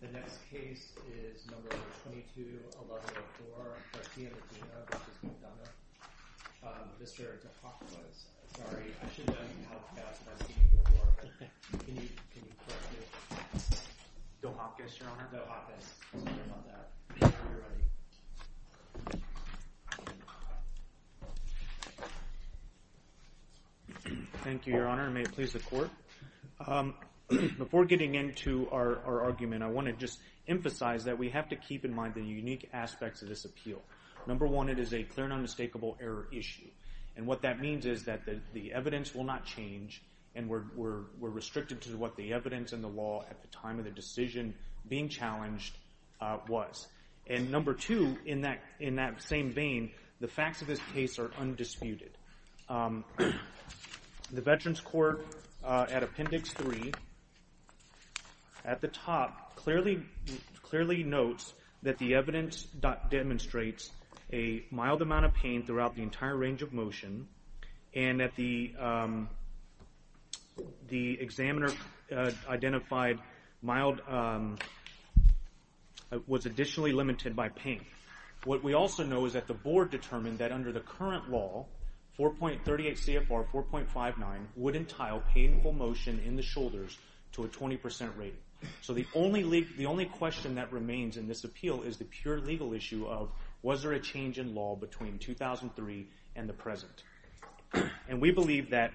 The next case is No. 22-1104, Garciamedina v. McDonough. Mr. DePoclos, sorry, I should have known you'd help me out, but I've seen you before. Can you correct me? DeHopkis, Your Honor. DeHopkis. Sorry about that. Before getting into our argument, I want to just emphasize that we have to keep in mind the unique aspects of this appeal. Number one, it is a clear and unmistakable error issue. And what that means is that the evidence will not change, and we're restricted to what the evidence and the law at the time of the decision being challenged was. And number two, in that same vein, the facts of this case are undisputed. The Veterans Court, at Appendix 3, at the top, clearly notes that the evidence demonstrates a mild amount of pain throughout the entire range of motion, and that the examiner identified was additionally limited by pain. What we also know is that the Board determined that under the current law, 4.38 CFR 4.59, would entail painful motion in the shoulders to a 20% rate. So the only question that remains in this appeal is the pure legal issue of, was there a change in law between 2003 and the present? And we believe that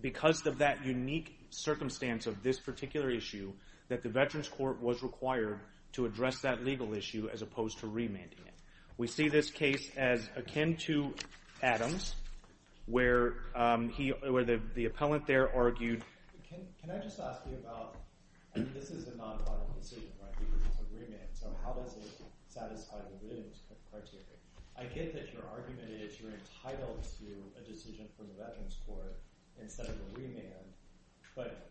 because of that unique circumstance of this particular issue, that the Veterans Court was required to address that legal issue as opposed to remanding it. We see this case as akin to Adams, where the appellant there argued— Can I just ask you about—this is a nonviolent decision, right? This is a remand, so how does it satisfy the Williams criteria? I get that your argument is you're entitled to a decision from the Veterans Court instead of a remand, but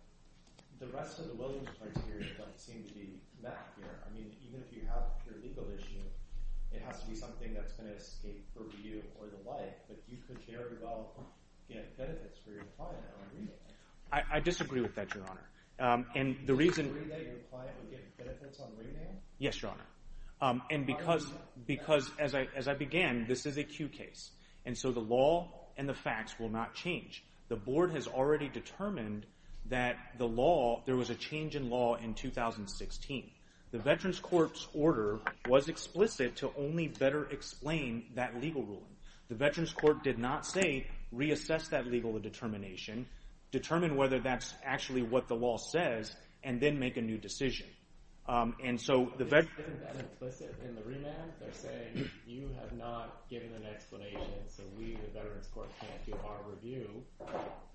the rest of the Williams criteria don't seem to be met here. I mean, even if you have a pure legal issue, it has to be something that's going to escape review or the like, but you could very well get benefits for your client on remand. I disagree with that, Your Honor. Do you agree that your client would get benefits on remand? Yes, Your Honor. And because, as I began, this is a Q case, and so the law and the facts will not change. The board has already determined that there was a change in law in 2016. The Veterans Court's order was explicit to only better explain that legal ruling. The Veterans Court did not say reassess that legal determination, determine whether that's actually what the law says, and then make a new decision. Isn't that implicit in the remand? They're saying you have not given an explanation, so we, the Veterans Court, can't do our review.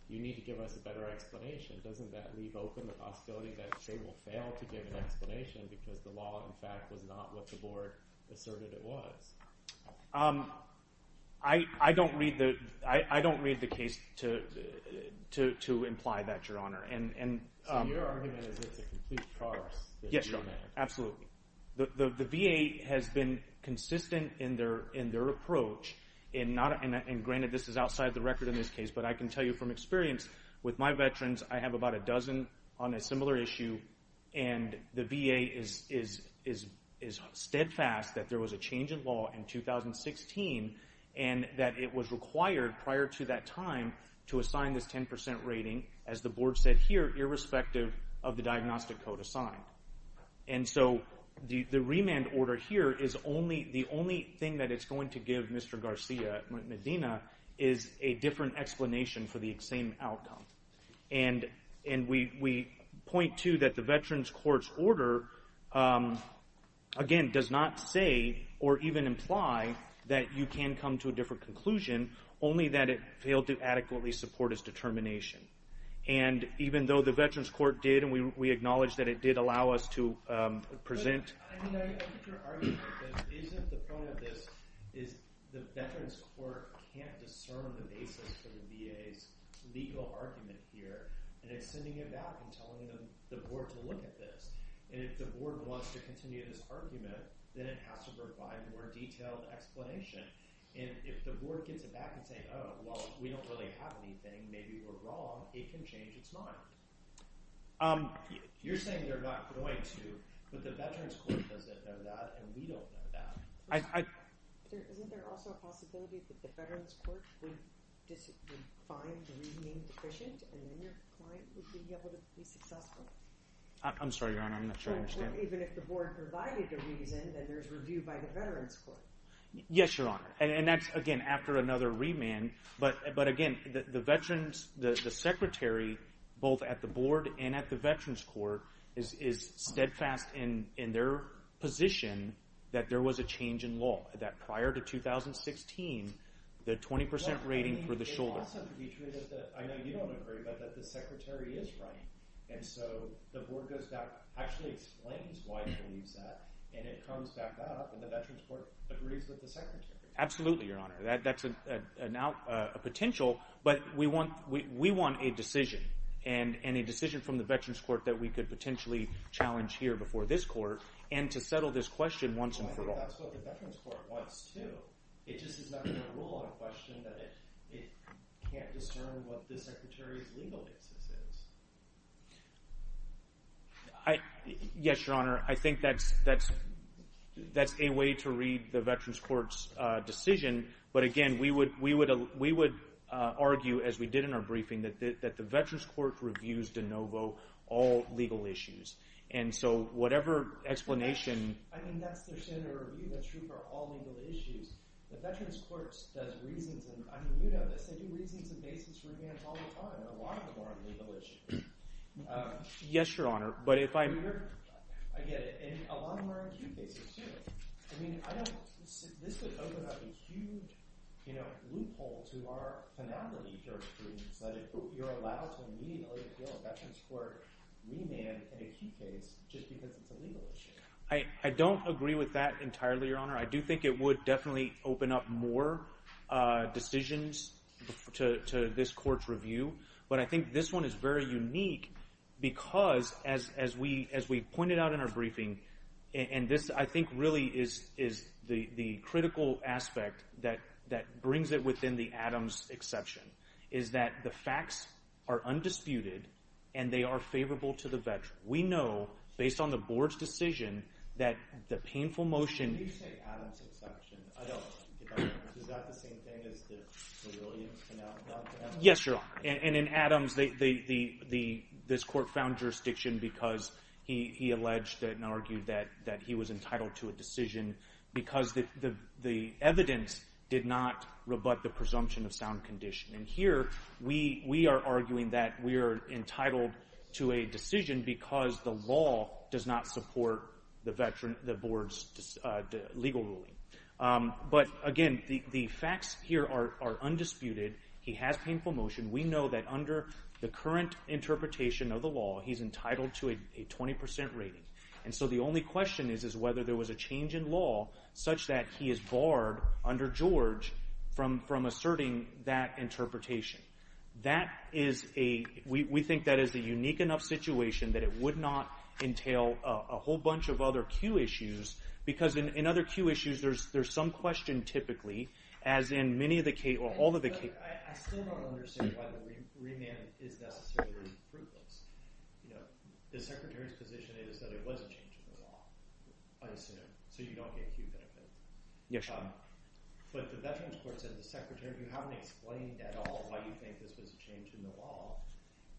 You need to give us a better explanation. Doesn't that leave open the possibility that they will fail to give an explanation because the law, in fact, was not what the board asserted it was? I don't read the case to imply that, Your Honor. So your argument is it's a complete farce? Yes, Your Honor, absolutely. The VA has been consistent in their approach, and granted this is outside the record in this case, but I can tell you from experience with my veterans, I have about a dozen on a similar issue, and the VA is steadfast that there was a change in law in 2016 and that it was required prior to that time to assign this 10% rating, as the board said here, irrespective of the diagnostic code assigned. And so the remand order here is the only thing that it's going to give Mr. Garcia Medina is a different explanation for the same outcome. And we point to that the Veterans Court's order, again, does not say or even imply that you can come to a different conclusion, only that it failed to adequately support its determination. And even though the Veterans Court did, and we acknowledge that it did allow us to present... But, I mean, I get your argument that isn't the point of this, is the Veterans Court can't discern the basis for the VA's legal argument here, and it's sending it back and telling the board to look at this. And if the board wants to continue this argument, then it has to provide a more detailed explanation. And if the board gets it back and says, oh, well, we don't really have anything, maybe we're wrong, it can change its mind. You're saying they're not going to, but the Veterans Court doesn't know that, and we don't know that. Isn't there also a possibility that the Veterans Court would find the reasoning deficient, and then your client would be able to be successful? I'm sorry, Your Honor, I'm not sure I understand. Even if the board provided a reason, then there's review by the Veterans Court. Yes, Your Honor. And that's, again, after another remand. But, again, the Secretary, both at the board and at the Veterans Court, is steadfast in their position that there was a change in law, that prior to 2016, the 20% rating for the shoulder. It also could be true, I know you don't agree, but that the Secretary is right. And so the board goes back, actually explains why it believes that, and it comes back out, and the Veterans Court agrees with the Secretary. Absolutely, Your Honor. That's a potential. But we want a decision, and a decision from the Veterans Court that we could potentially challenge here before this court, and to settle this question once and for all. I think that's what the Veterans Court wants, too. It just is not going to rule on a question that it can't discern what the Secretary's legal basis is. Yes, Your Honor. I think that's a way to read the Veterans Court's decision. But, again, we would argue, as we did in our briefing, that the Veterans Court reviews de novo all legal issues. And so whatever explanation... I mean, that's their standard of review. That's true for all legal issues. The Veterans Court does reasons, and I mean, you know this, they do reasons and basis revams all the time, and a lot of them are on legal issues. Yes, Your Honor, but if I'm... I get it. And a lot of them are acute cases, too. I mean, this would open up a huge loophole to our finality here, which is that you're allowed to immediately appeal a Veterans Court remand in a key case just because it's a legal issue. I don't agree with that entirely, Your Honor. I do think it would definitely open up more decisions to this court's review. But I think this one is very unique because, as we pointed out in our briefing, and this, I think, really is the critical aspect that brings it within the Adams exception, is that the facts are undisputed and they are favorable to the veteran. We know, based on the board's decision, that the painful motion... I don't get that. Is that the same thing as the Williams finality? Yes, Your Honor, and in Adams, this court found jurisdiction because he alleged and argued that he was entitled to a decision because the evidence did not rebut the presumption of sound condition. And here, we are arguing that we are entitled to a decision because the law does not support the board's legal ruling. But, again, the facts here are undisputed. He has painful motion. We know that under the current interpretation of the law, he's entitled to a 20% rating. And so the only question is whether there was a change in law such that he is barred under George from asserting that interpretation. We think that is a unique enough situation that it would not entail a whole bunch of other cue issues because in other cue issues, there's some question, typically, as in many of the cases... I still don't understand why the remand is necessarily fruitless. The Secretary's position is that it wasn't changed in the law, I assume, Yes, Your Honor. But the Veterans Court said to the Secretary, you haven't explained at all why you think this was a change in the law,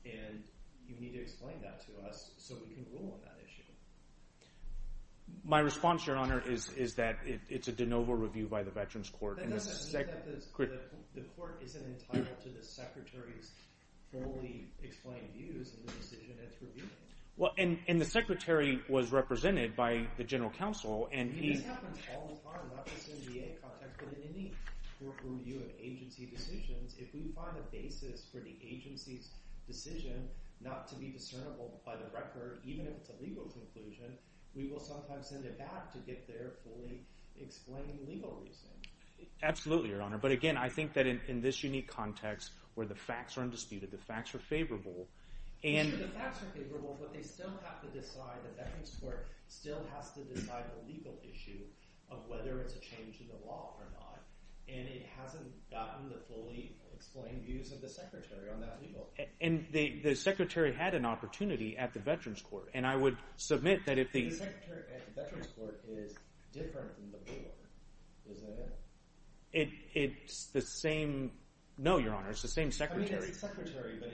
and you need to explain that to us so we can rule on that issue. My response, Your Honor, is that it's a de novo review by the Veterans Court. But that doesn't mean that the court isn't entitled to the Secretary's fully explained views in the decision it's reviewing. Well, and the Secretary was represented by the General Counsel, and he... But in any review of agency decisions, if we find a basis for the agency's decision not to be discernible by the record, even if it's a legal conclusion, we will sometimes send it back to get their fully explained legal reasoning. Absolutely, Your Honor. But again, I think that in this unique context, where the facts are undisputed, the facts are favorable, and... The facts are favorable, but they still have to decide, the Veterans Court still has to decide the legal issue of whether it's a change in the law or not, and it hasn't gotten the fully explained views of the Secretary on that legal issue. And the Secretary had an opportunity at the Veterans Court, and I would submit that if the... The Secretary at the Veterans Court is different than the board, isn't it? It's the same... No, Your Honor, it's the same Secretary. I mean, it's the Secretary, but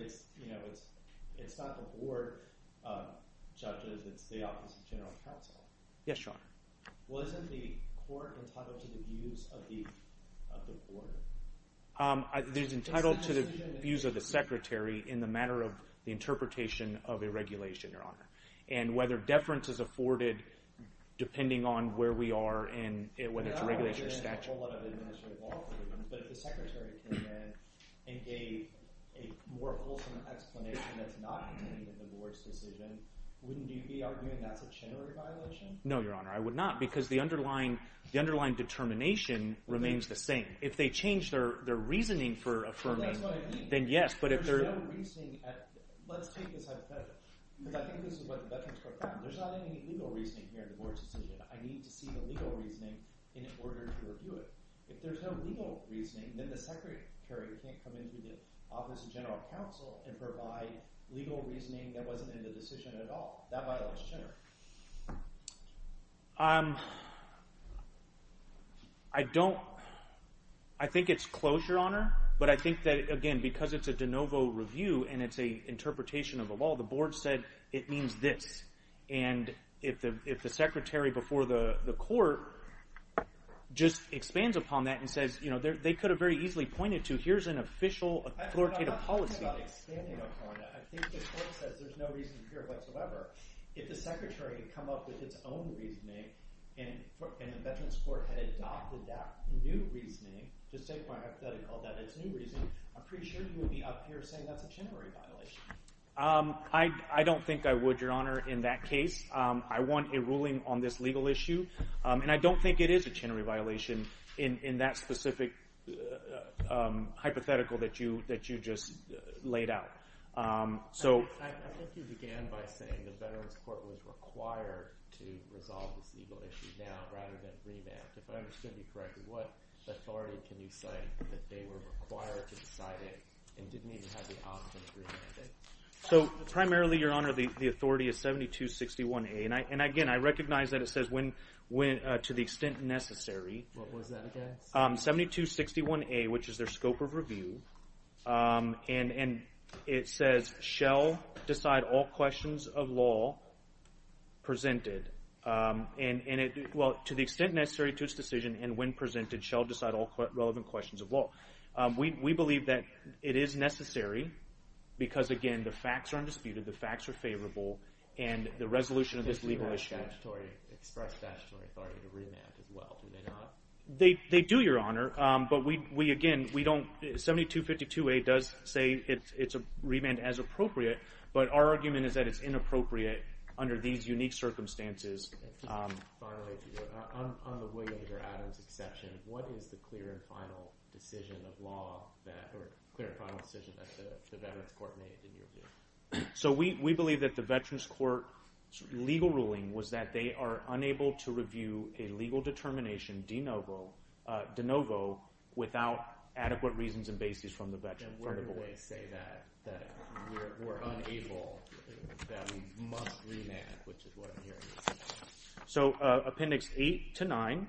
it's not the board of judges. It's the Office of General Counsel. Yes, Your Honor. Well, isn't the court entitled to the views of the board? It is entitled to the views of the Secretary in the matter of the interpretation of a regulation, Your Honor, and whether deference is afforded depending on where we are and whether it's a regulation or statute. But if the Secretary came in and gave a more wholesome explanation that's not contained in the board's decision, wouldn't you be arguing that's a chenery violation? No, Your Honor, I would not, because the underlying determination remains the same. If they change their reasoning for affirming... Well, that's what I mean. Then yes, but if they're... There's no reasoning at... Let's take this hypothetical, because I think this is what the Veterans Court found. There's not any legal reasoning here in the board's decision. I need to see the legal reasoning in order to review it. If there's no legal reasoning, then the Secretary can't come in through the Office of General Counsel and provide legal reasoning that wasn't in the decision at all. That violates chenery. I don't... I think it's close, Your Honor, but I think that, again, because it's a de novo review and it's an interpretation of the law, the board said it means this. And if the Secretary before the court just expands upon that and says they could have very easily pointed to here's an official authoritative policy... I'm not talking about expanding upon that. I think the court says there's no reason here whatsoever. If the Secretary had come up with its own reasoning and the Veterans Court had adopted that new reasoning, just to take my hypothetical that it's new reasoning, I'm pretty sure you would be up here saying that's a chenery violation. I don't think I would, Your Honor, in that case. I want a ruling on this legal issue, and I don't think it is a chenery violation in that specific hypothetical that you just laid out. I think you began by saying the Veterans Court was required to resolve this legal issue now rather than remand. If I understand you correctly, what authority can you cite that they were required to decide it and didn't even have the option to remand it? Primarily, Your Honor, the authority is 7261A. And, again, I recognize that it says to the extent necessary. What was that again? 7261A, which is their scope of review. And it says, shall decide all questions of law presented. And, well, to the extent necessary to its decision and when presented shall decide all relevant questions of law. We believe that it is necessary because, again, the facts are undisputed, the facts are favorable, and the resolution of this legal issue. Does it have statutory, express statutory authority to remand as well? Do they not? They do, Your Honor. But, again, 7252A does say it's remanded as appropriate, but our argument is that it's inappropriate under these unique circumstances. Finally, on the Williams or Adams exception, what is the clear and final decision of law that, or clear and final decision that the Veterans Court made in your view? So we believe that the Veterans Court's legal ruling was that they are unable to review a legal determination de novo without adequate reasons and basis from the Veterans Court. And where do they say that? That we're unable, that we must remand, which is what I'm hearing. So Appendix 8 to 9.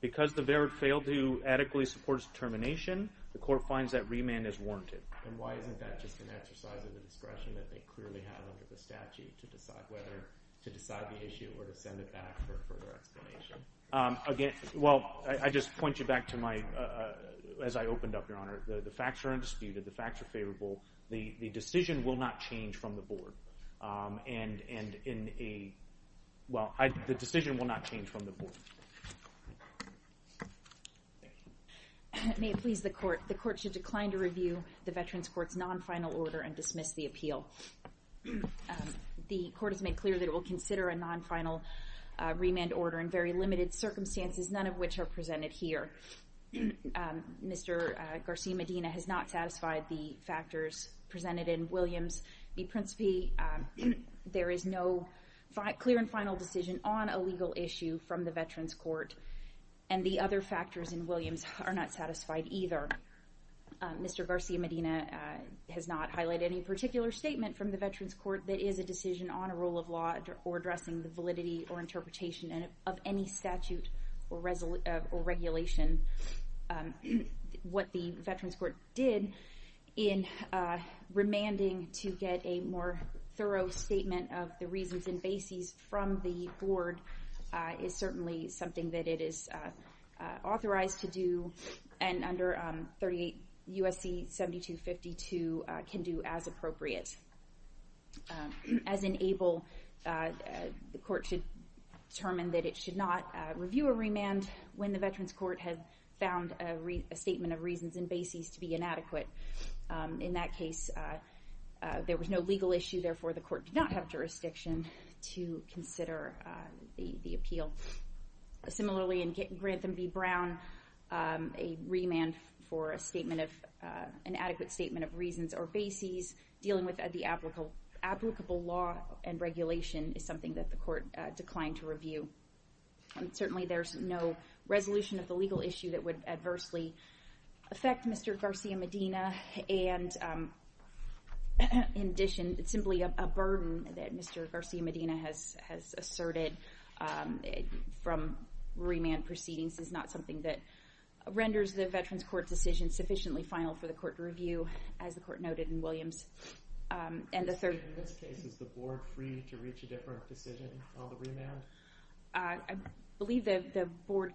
Because the verdict failed to adequately support its determination, the court finds that remand is warranted. And why isn't that just an exercise of the discretion that they clearly have under the statute to decide whether, to decide the issue or to send it back for further explanation? Again, well, I just point you back to my, as I opened up, Your Honor, the facts are undisputed, the facts are favorable. The decision will not change from the board. And in a, well, the decision will not change from the board. May it please the court. The court should decline to review the Veterans Court's non-final order and dismiss the appeal. The court has made clear that it will consider a non-final remand order in very limited circumstances, none of which are presented here. Mr. Garcia-Medina has not satisfied the factors presented in Williams v. Principe. There is no clear and final decision on a legal issue from the Veterans Court. And the other factors in Williams are not satisfied either. Mr. Garcia-Medina has not highlighted any particular statement from the Veterans Court that is a decision on a rule of law or addressing the validity or interpretation of any statute or regulation. What the Veterans Court did in remanding to get a more thorough statement of the reasons and bases from the board is certainly something that it is authorized to do. And under 38 U.S.C. 7252 can do as appropriate. As in ABLE, the court should determine that it should not review a remand when the Veterans Court has found a statement of reasons and bases to be inadequate. In that case, there was no legal issue. Therefore, the court did not have jurisdiction to consider the appeal. Similarly, in Grantham v. Brown, a remand for an adequate statement of reasons or bases dealing with the applicable law and regulation is something that the court declined to review. Certainly, there is no resolution of the legal issue that would adversely affect Mr. Garcia-Medina. In addition, simply a burden that Mr. Garcia-Medina has asserted from remand proceedings is not something that renders the Veterans Court decision sufficiently final for the court to review, as the court noted in Williams. In this case, is the board free to reach a different decision on the remand? I believe that the board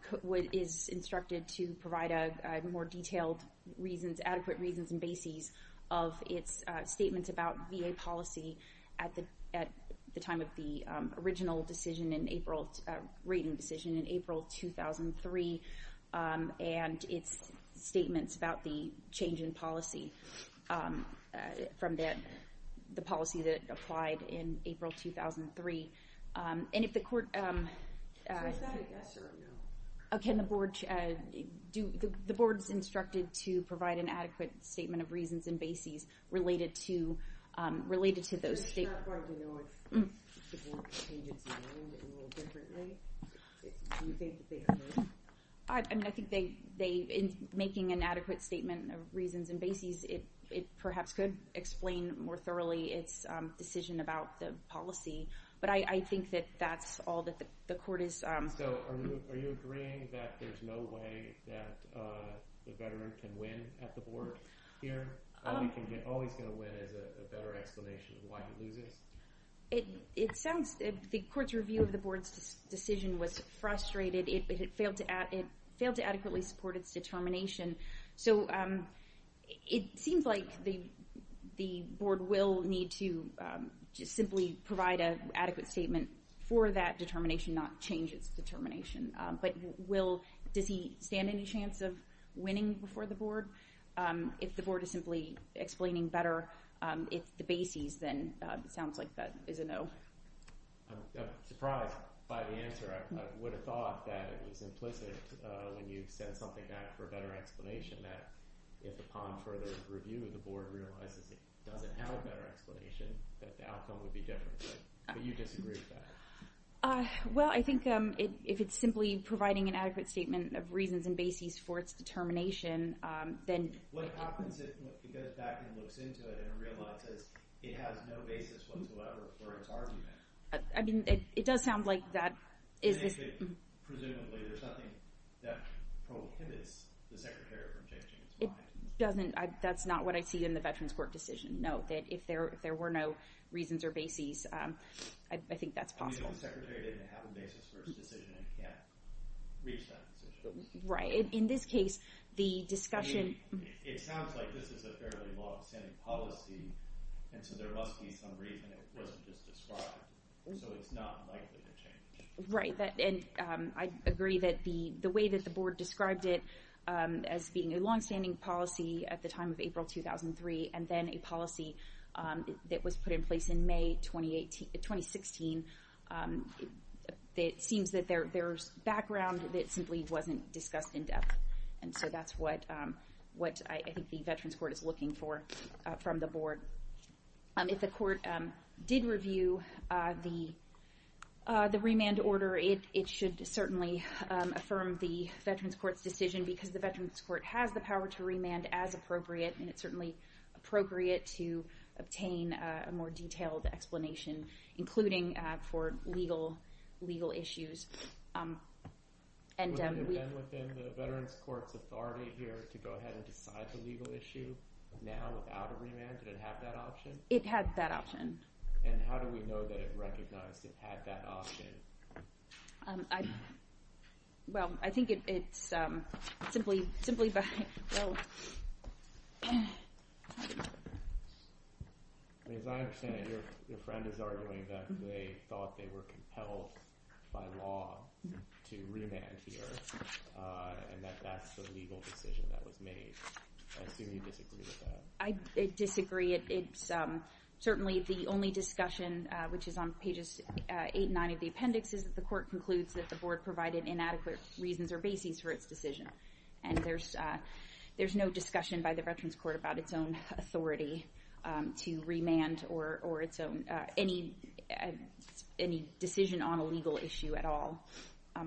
is instructed to provide more detailed reasons, adequate reasons and bases, of its statements about VA policy at the time of the original decision in April, rating decision in April 2003, and its statements about the change in policy from the policy that applied in April 2003. So is that a yes or a no? The board is instructed to provide an adequate statement of reasons and bases related to those statements. It's not going to know if the board changed its mind a little differently? Do you think that they could? In making an adequate statement of reasons and bases, it perhaps could explain more thoroughly its decision about the policy. But I think that that's all that the court is... So are you agreeing that there's no way that the veteran can win at the board here? All he's going to win is a better explanation of why he loses? It sounds... the court's review of the board's decision was frustrated. It failed to adequately support its determination. So it seems like the board will need to just simply provide an adequate statement for that determination, not change its determination. But will... does he stand any chance of winning before the board? If the board is simply explaining better the bases, then it sounds like that is a no. I'm surprised by the answer. I would have thought that it was implicit when you said something for a better explanation, that if upon further review, the board realizes it doesn't have a better explanation, that the outcome would be different. But you disagree with that? Well, I think if it's simply providing an adequate statement of reasons and bases for its determination, then... Unless it goes back and looks into it and realizes it has no basis whatsoever for its argument. I mean, it does sound like that is... Presumably, there's nothing that prohibits the secretary from changing his mind. It doesn't. That's not what I see in the Veterans Court decision. No, if there were no reasons or bases, I think that's possible. If the secretary didn't have a basis for his decision and can't reach that decision. Right. In this case, the discussion... It sounds like this is a fairly long-standing policy, and so there must be some reason it wasn't just described. So it's not likely to change. Right. And I agree that the way that the board described it as being a long-standing policy at the time of April 2003, and then a policy that was put in place in May 2016, it seems that there's background that simply wasn't discussed in depth. And so that's what I think the Veterans Court is looking for from the board. If the court did review the remand order, it should certainly affirm the Veterans Court's decision because the Veterans Court has the power to remand as appropriate, and it's certainly appropriate to obtain a more detailed explanation, including for legal issues. Would it have been within the Veterans Court's authority here to go ahead and decide the legal issue now without a remand? Did it have that option? It had that option. And how do we know that it recognized it had that option? Well, I think it's simply by... As I understand it, your friend is arguing that they thought they were compelled by law to remand here, and that that's the legal decision that was made. I assume you disagree with that. I disagree. It's certainly the only discussion, which is on pages 8 and 9 of the appendix, is that the court concludes that the board provided inadequate reasons or bases for its decision. And there's no discussion by the Veterans Court about its own authority to remand or any decision on a legal issue at all. I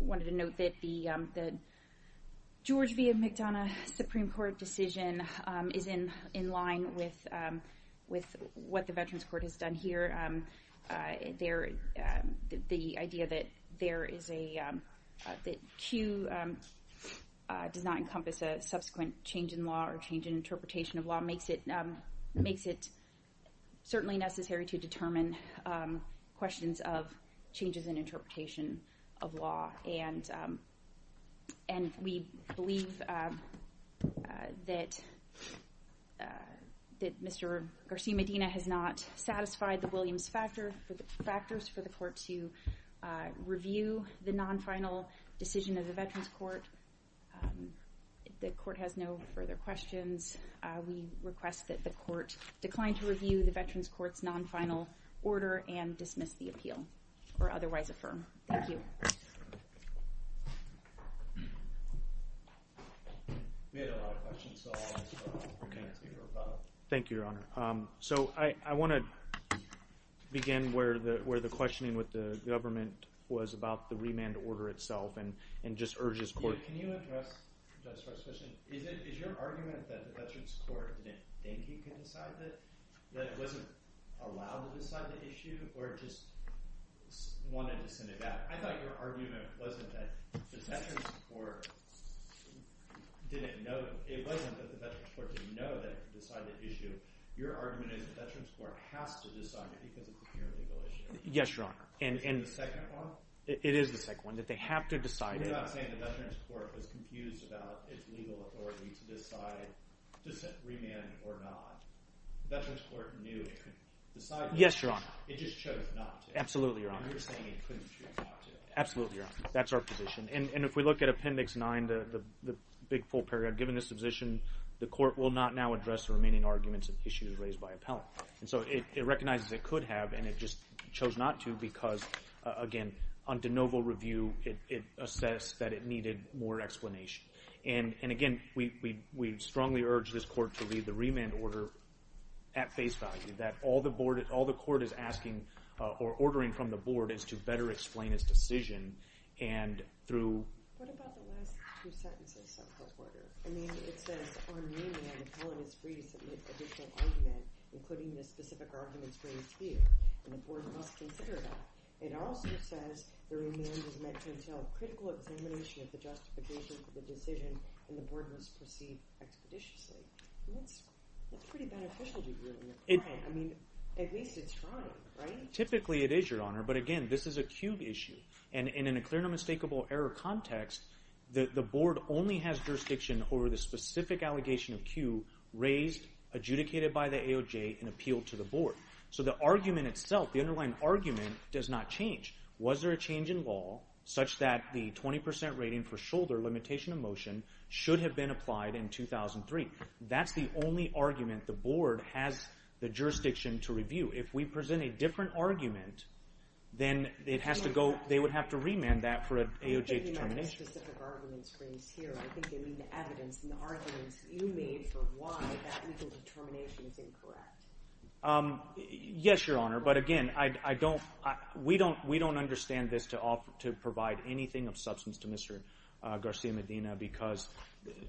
wanted to note that the George V. McDonough Supreme Court decision is in line with what the Veterans Court has done here. The idea that Q does not encompass a subsequent change in law or change in interpretation of law makes it certainly necessary to determine questions of changes in interpretation of law. And we believe that Mr. Garcia-Medina has not satisfied the Williams factors for the court to review the non-final decision of the Veterans Court. The court has no further questions. We request that the court decline to review the Veterans Court's non-final order and dismiss the appeal or otherwise affirm. Thank you. Thank you, Your Honor. So I want to begin where the questioning with the government was about the remand order itself and just urge this court. Is your argument that the Veterans Court didn't think it could decide it? That it wasn't allowed to decide the issue or just wanted to send it back? I thought your argument wasn't that the Veterans Court didn't know. It wasn't that the Veterans Court didn't know that it could decide the issue. Your argument is the Veterans Court has to decide it because it's a pure legal issue. Yes, Your Honor. Is this the second one? It is the second one, that they have to decide it. You're not saying the Veterans Court was confused about its legal authority to decide remand or not. The Veterans Court knew it could decide it. Yes, Your Honor. It just chose not to. Absolutely, Your Honor. And you're saying it couldn't choose not to. Absolutely, Your Honor. That's our position. And if we look at Appendix 9, the big full paragraph, given this position, the court will not now address the remaining arguments of issues raised by appellant. And so it recognizes it could have, and it just chose not to because, again, on de novo review, it assessed that it needed more explanation. And, again, we strongly urge this court to leave the remand order at face value, that all the court is asking or ordering from the board is to better explain its decision. And through— What about the last two sentences of her order? I mean, it says our remand appellant is free to submit additional argument, including the specific arguments raised here, and the board must consider that. It also says the remand is meant to entail critical examination of the justification for the decision, and the board must proceed expeditiously. That's pretty beneficial to you. I mean, at least it's trying, right? Typically it is, Your Honor. But, again, this is a cube issue. And in a clear and unmistakable error context, the board only has jurisdiction over the specific allegation of cue raised, adjudicated by the AOJ, and appealed to the board. So the argument itself, the underlying argument, does not change. Was there a change in law such that the 20% rating for shoulder limitation of motion should have been applied in 2003? That's the only argument the board has the jurisdiction to review. If we present a different argument, then they would have to remand that for an AOJ determination. I'm not taking on the specific arguments raised here. I think they mean the evidence and the arguments you made for why that legal determination is incorrect. Yes, Your Honor. But, again, we don't understand this to provide anything of substance to Mr. Garcia-Medina because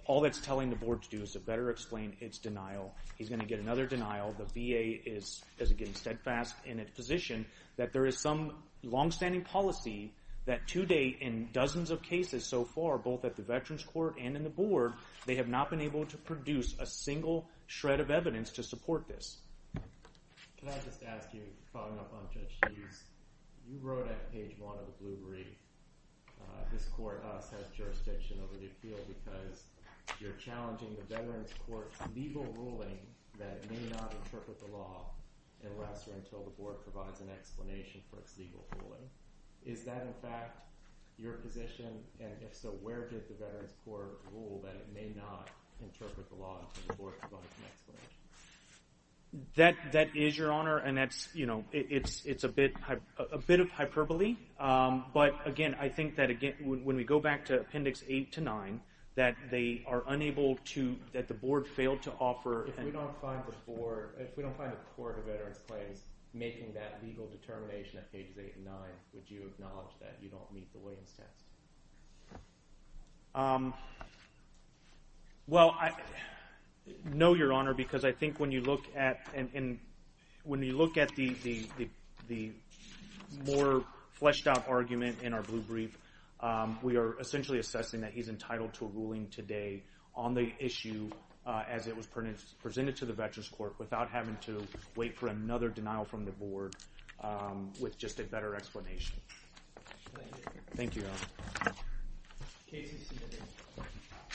all that's telling the board to do is to better explain its denial. He's going to get another denial. The VA is, again, steadfast in its position that there is some longstanding policy that, to date in dozens of cases so far, both at the Veterans Court and in the board, they have not been able to produce a single shred of evidence to support this. Can I just ask you, following up on Judge Hughes, you wrote at page one of the Blue Brief, this court has jurisdiction over the appeal because you're challenging the Veterans Court's legal ruling that it may not interpret the law unless or until the board provides an explanation for its legal ruling. Is that, in fact, your position? And, if so, where did the Veterans Court rule that it may not interpret the law until the board provides an explanation? That is, Your Honor, and it's a bit of hyperbole. But, again, I think that when we go back to Appendix 8 to 9, that they are unable toóthat the board failed to offeró If we don't find the boardóif we don't find the court of veterans' claims making that legal determination at pages 8 and 9, would you acknowledge that you don't meet the Williams test? Well, no, Your Honor, because I think when you look ató when you look at the more fleshed-out argument in our Blue Brief, we are essentially assessing that he's entitled to a ruling today on the issue as it was presented to the Veterans Court without having to wait for another denial from the board with just a better explanation. Thank you. Thank you, Your Honor.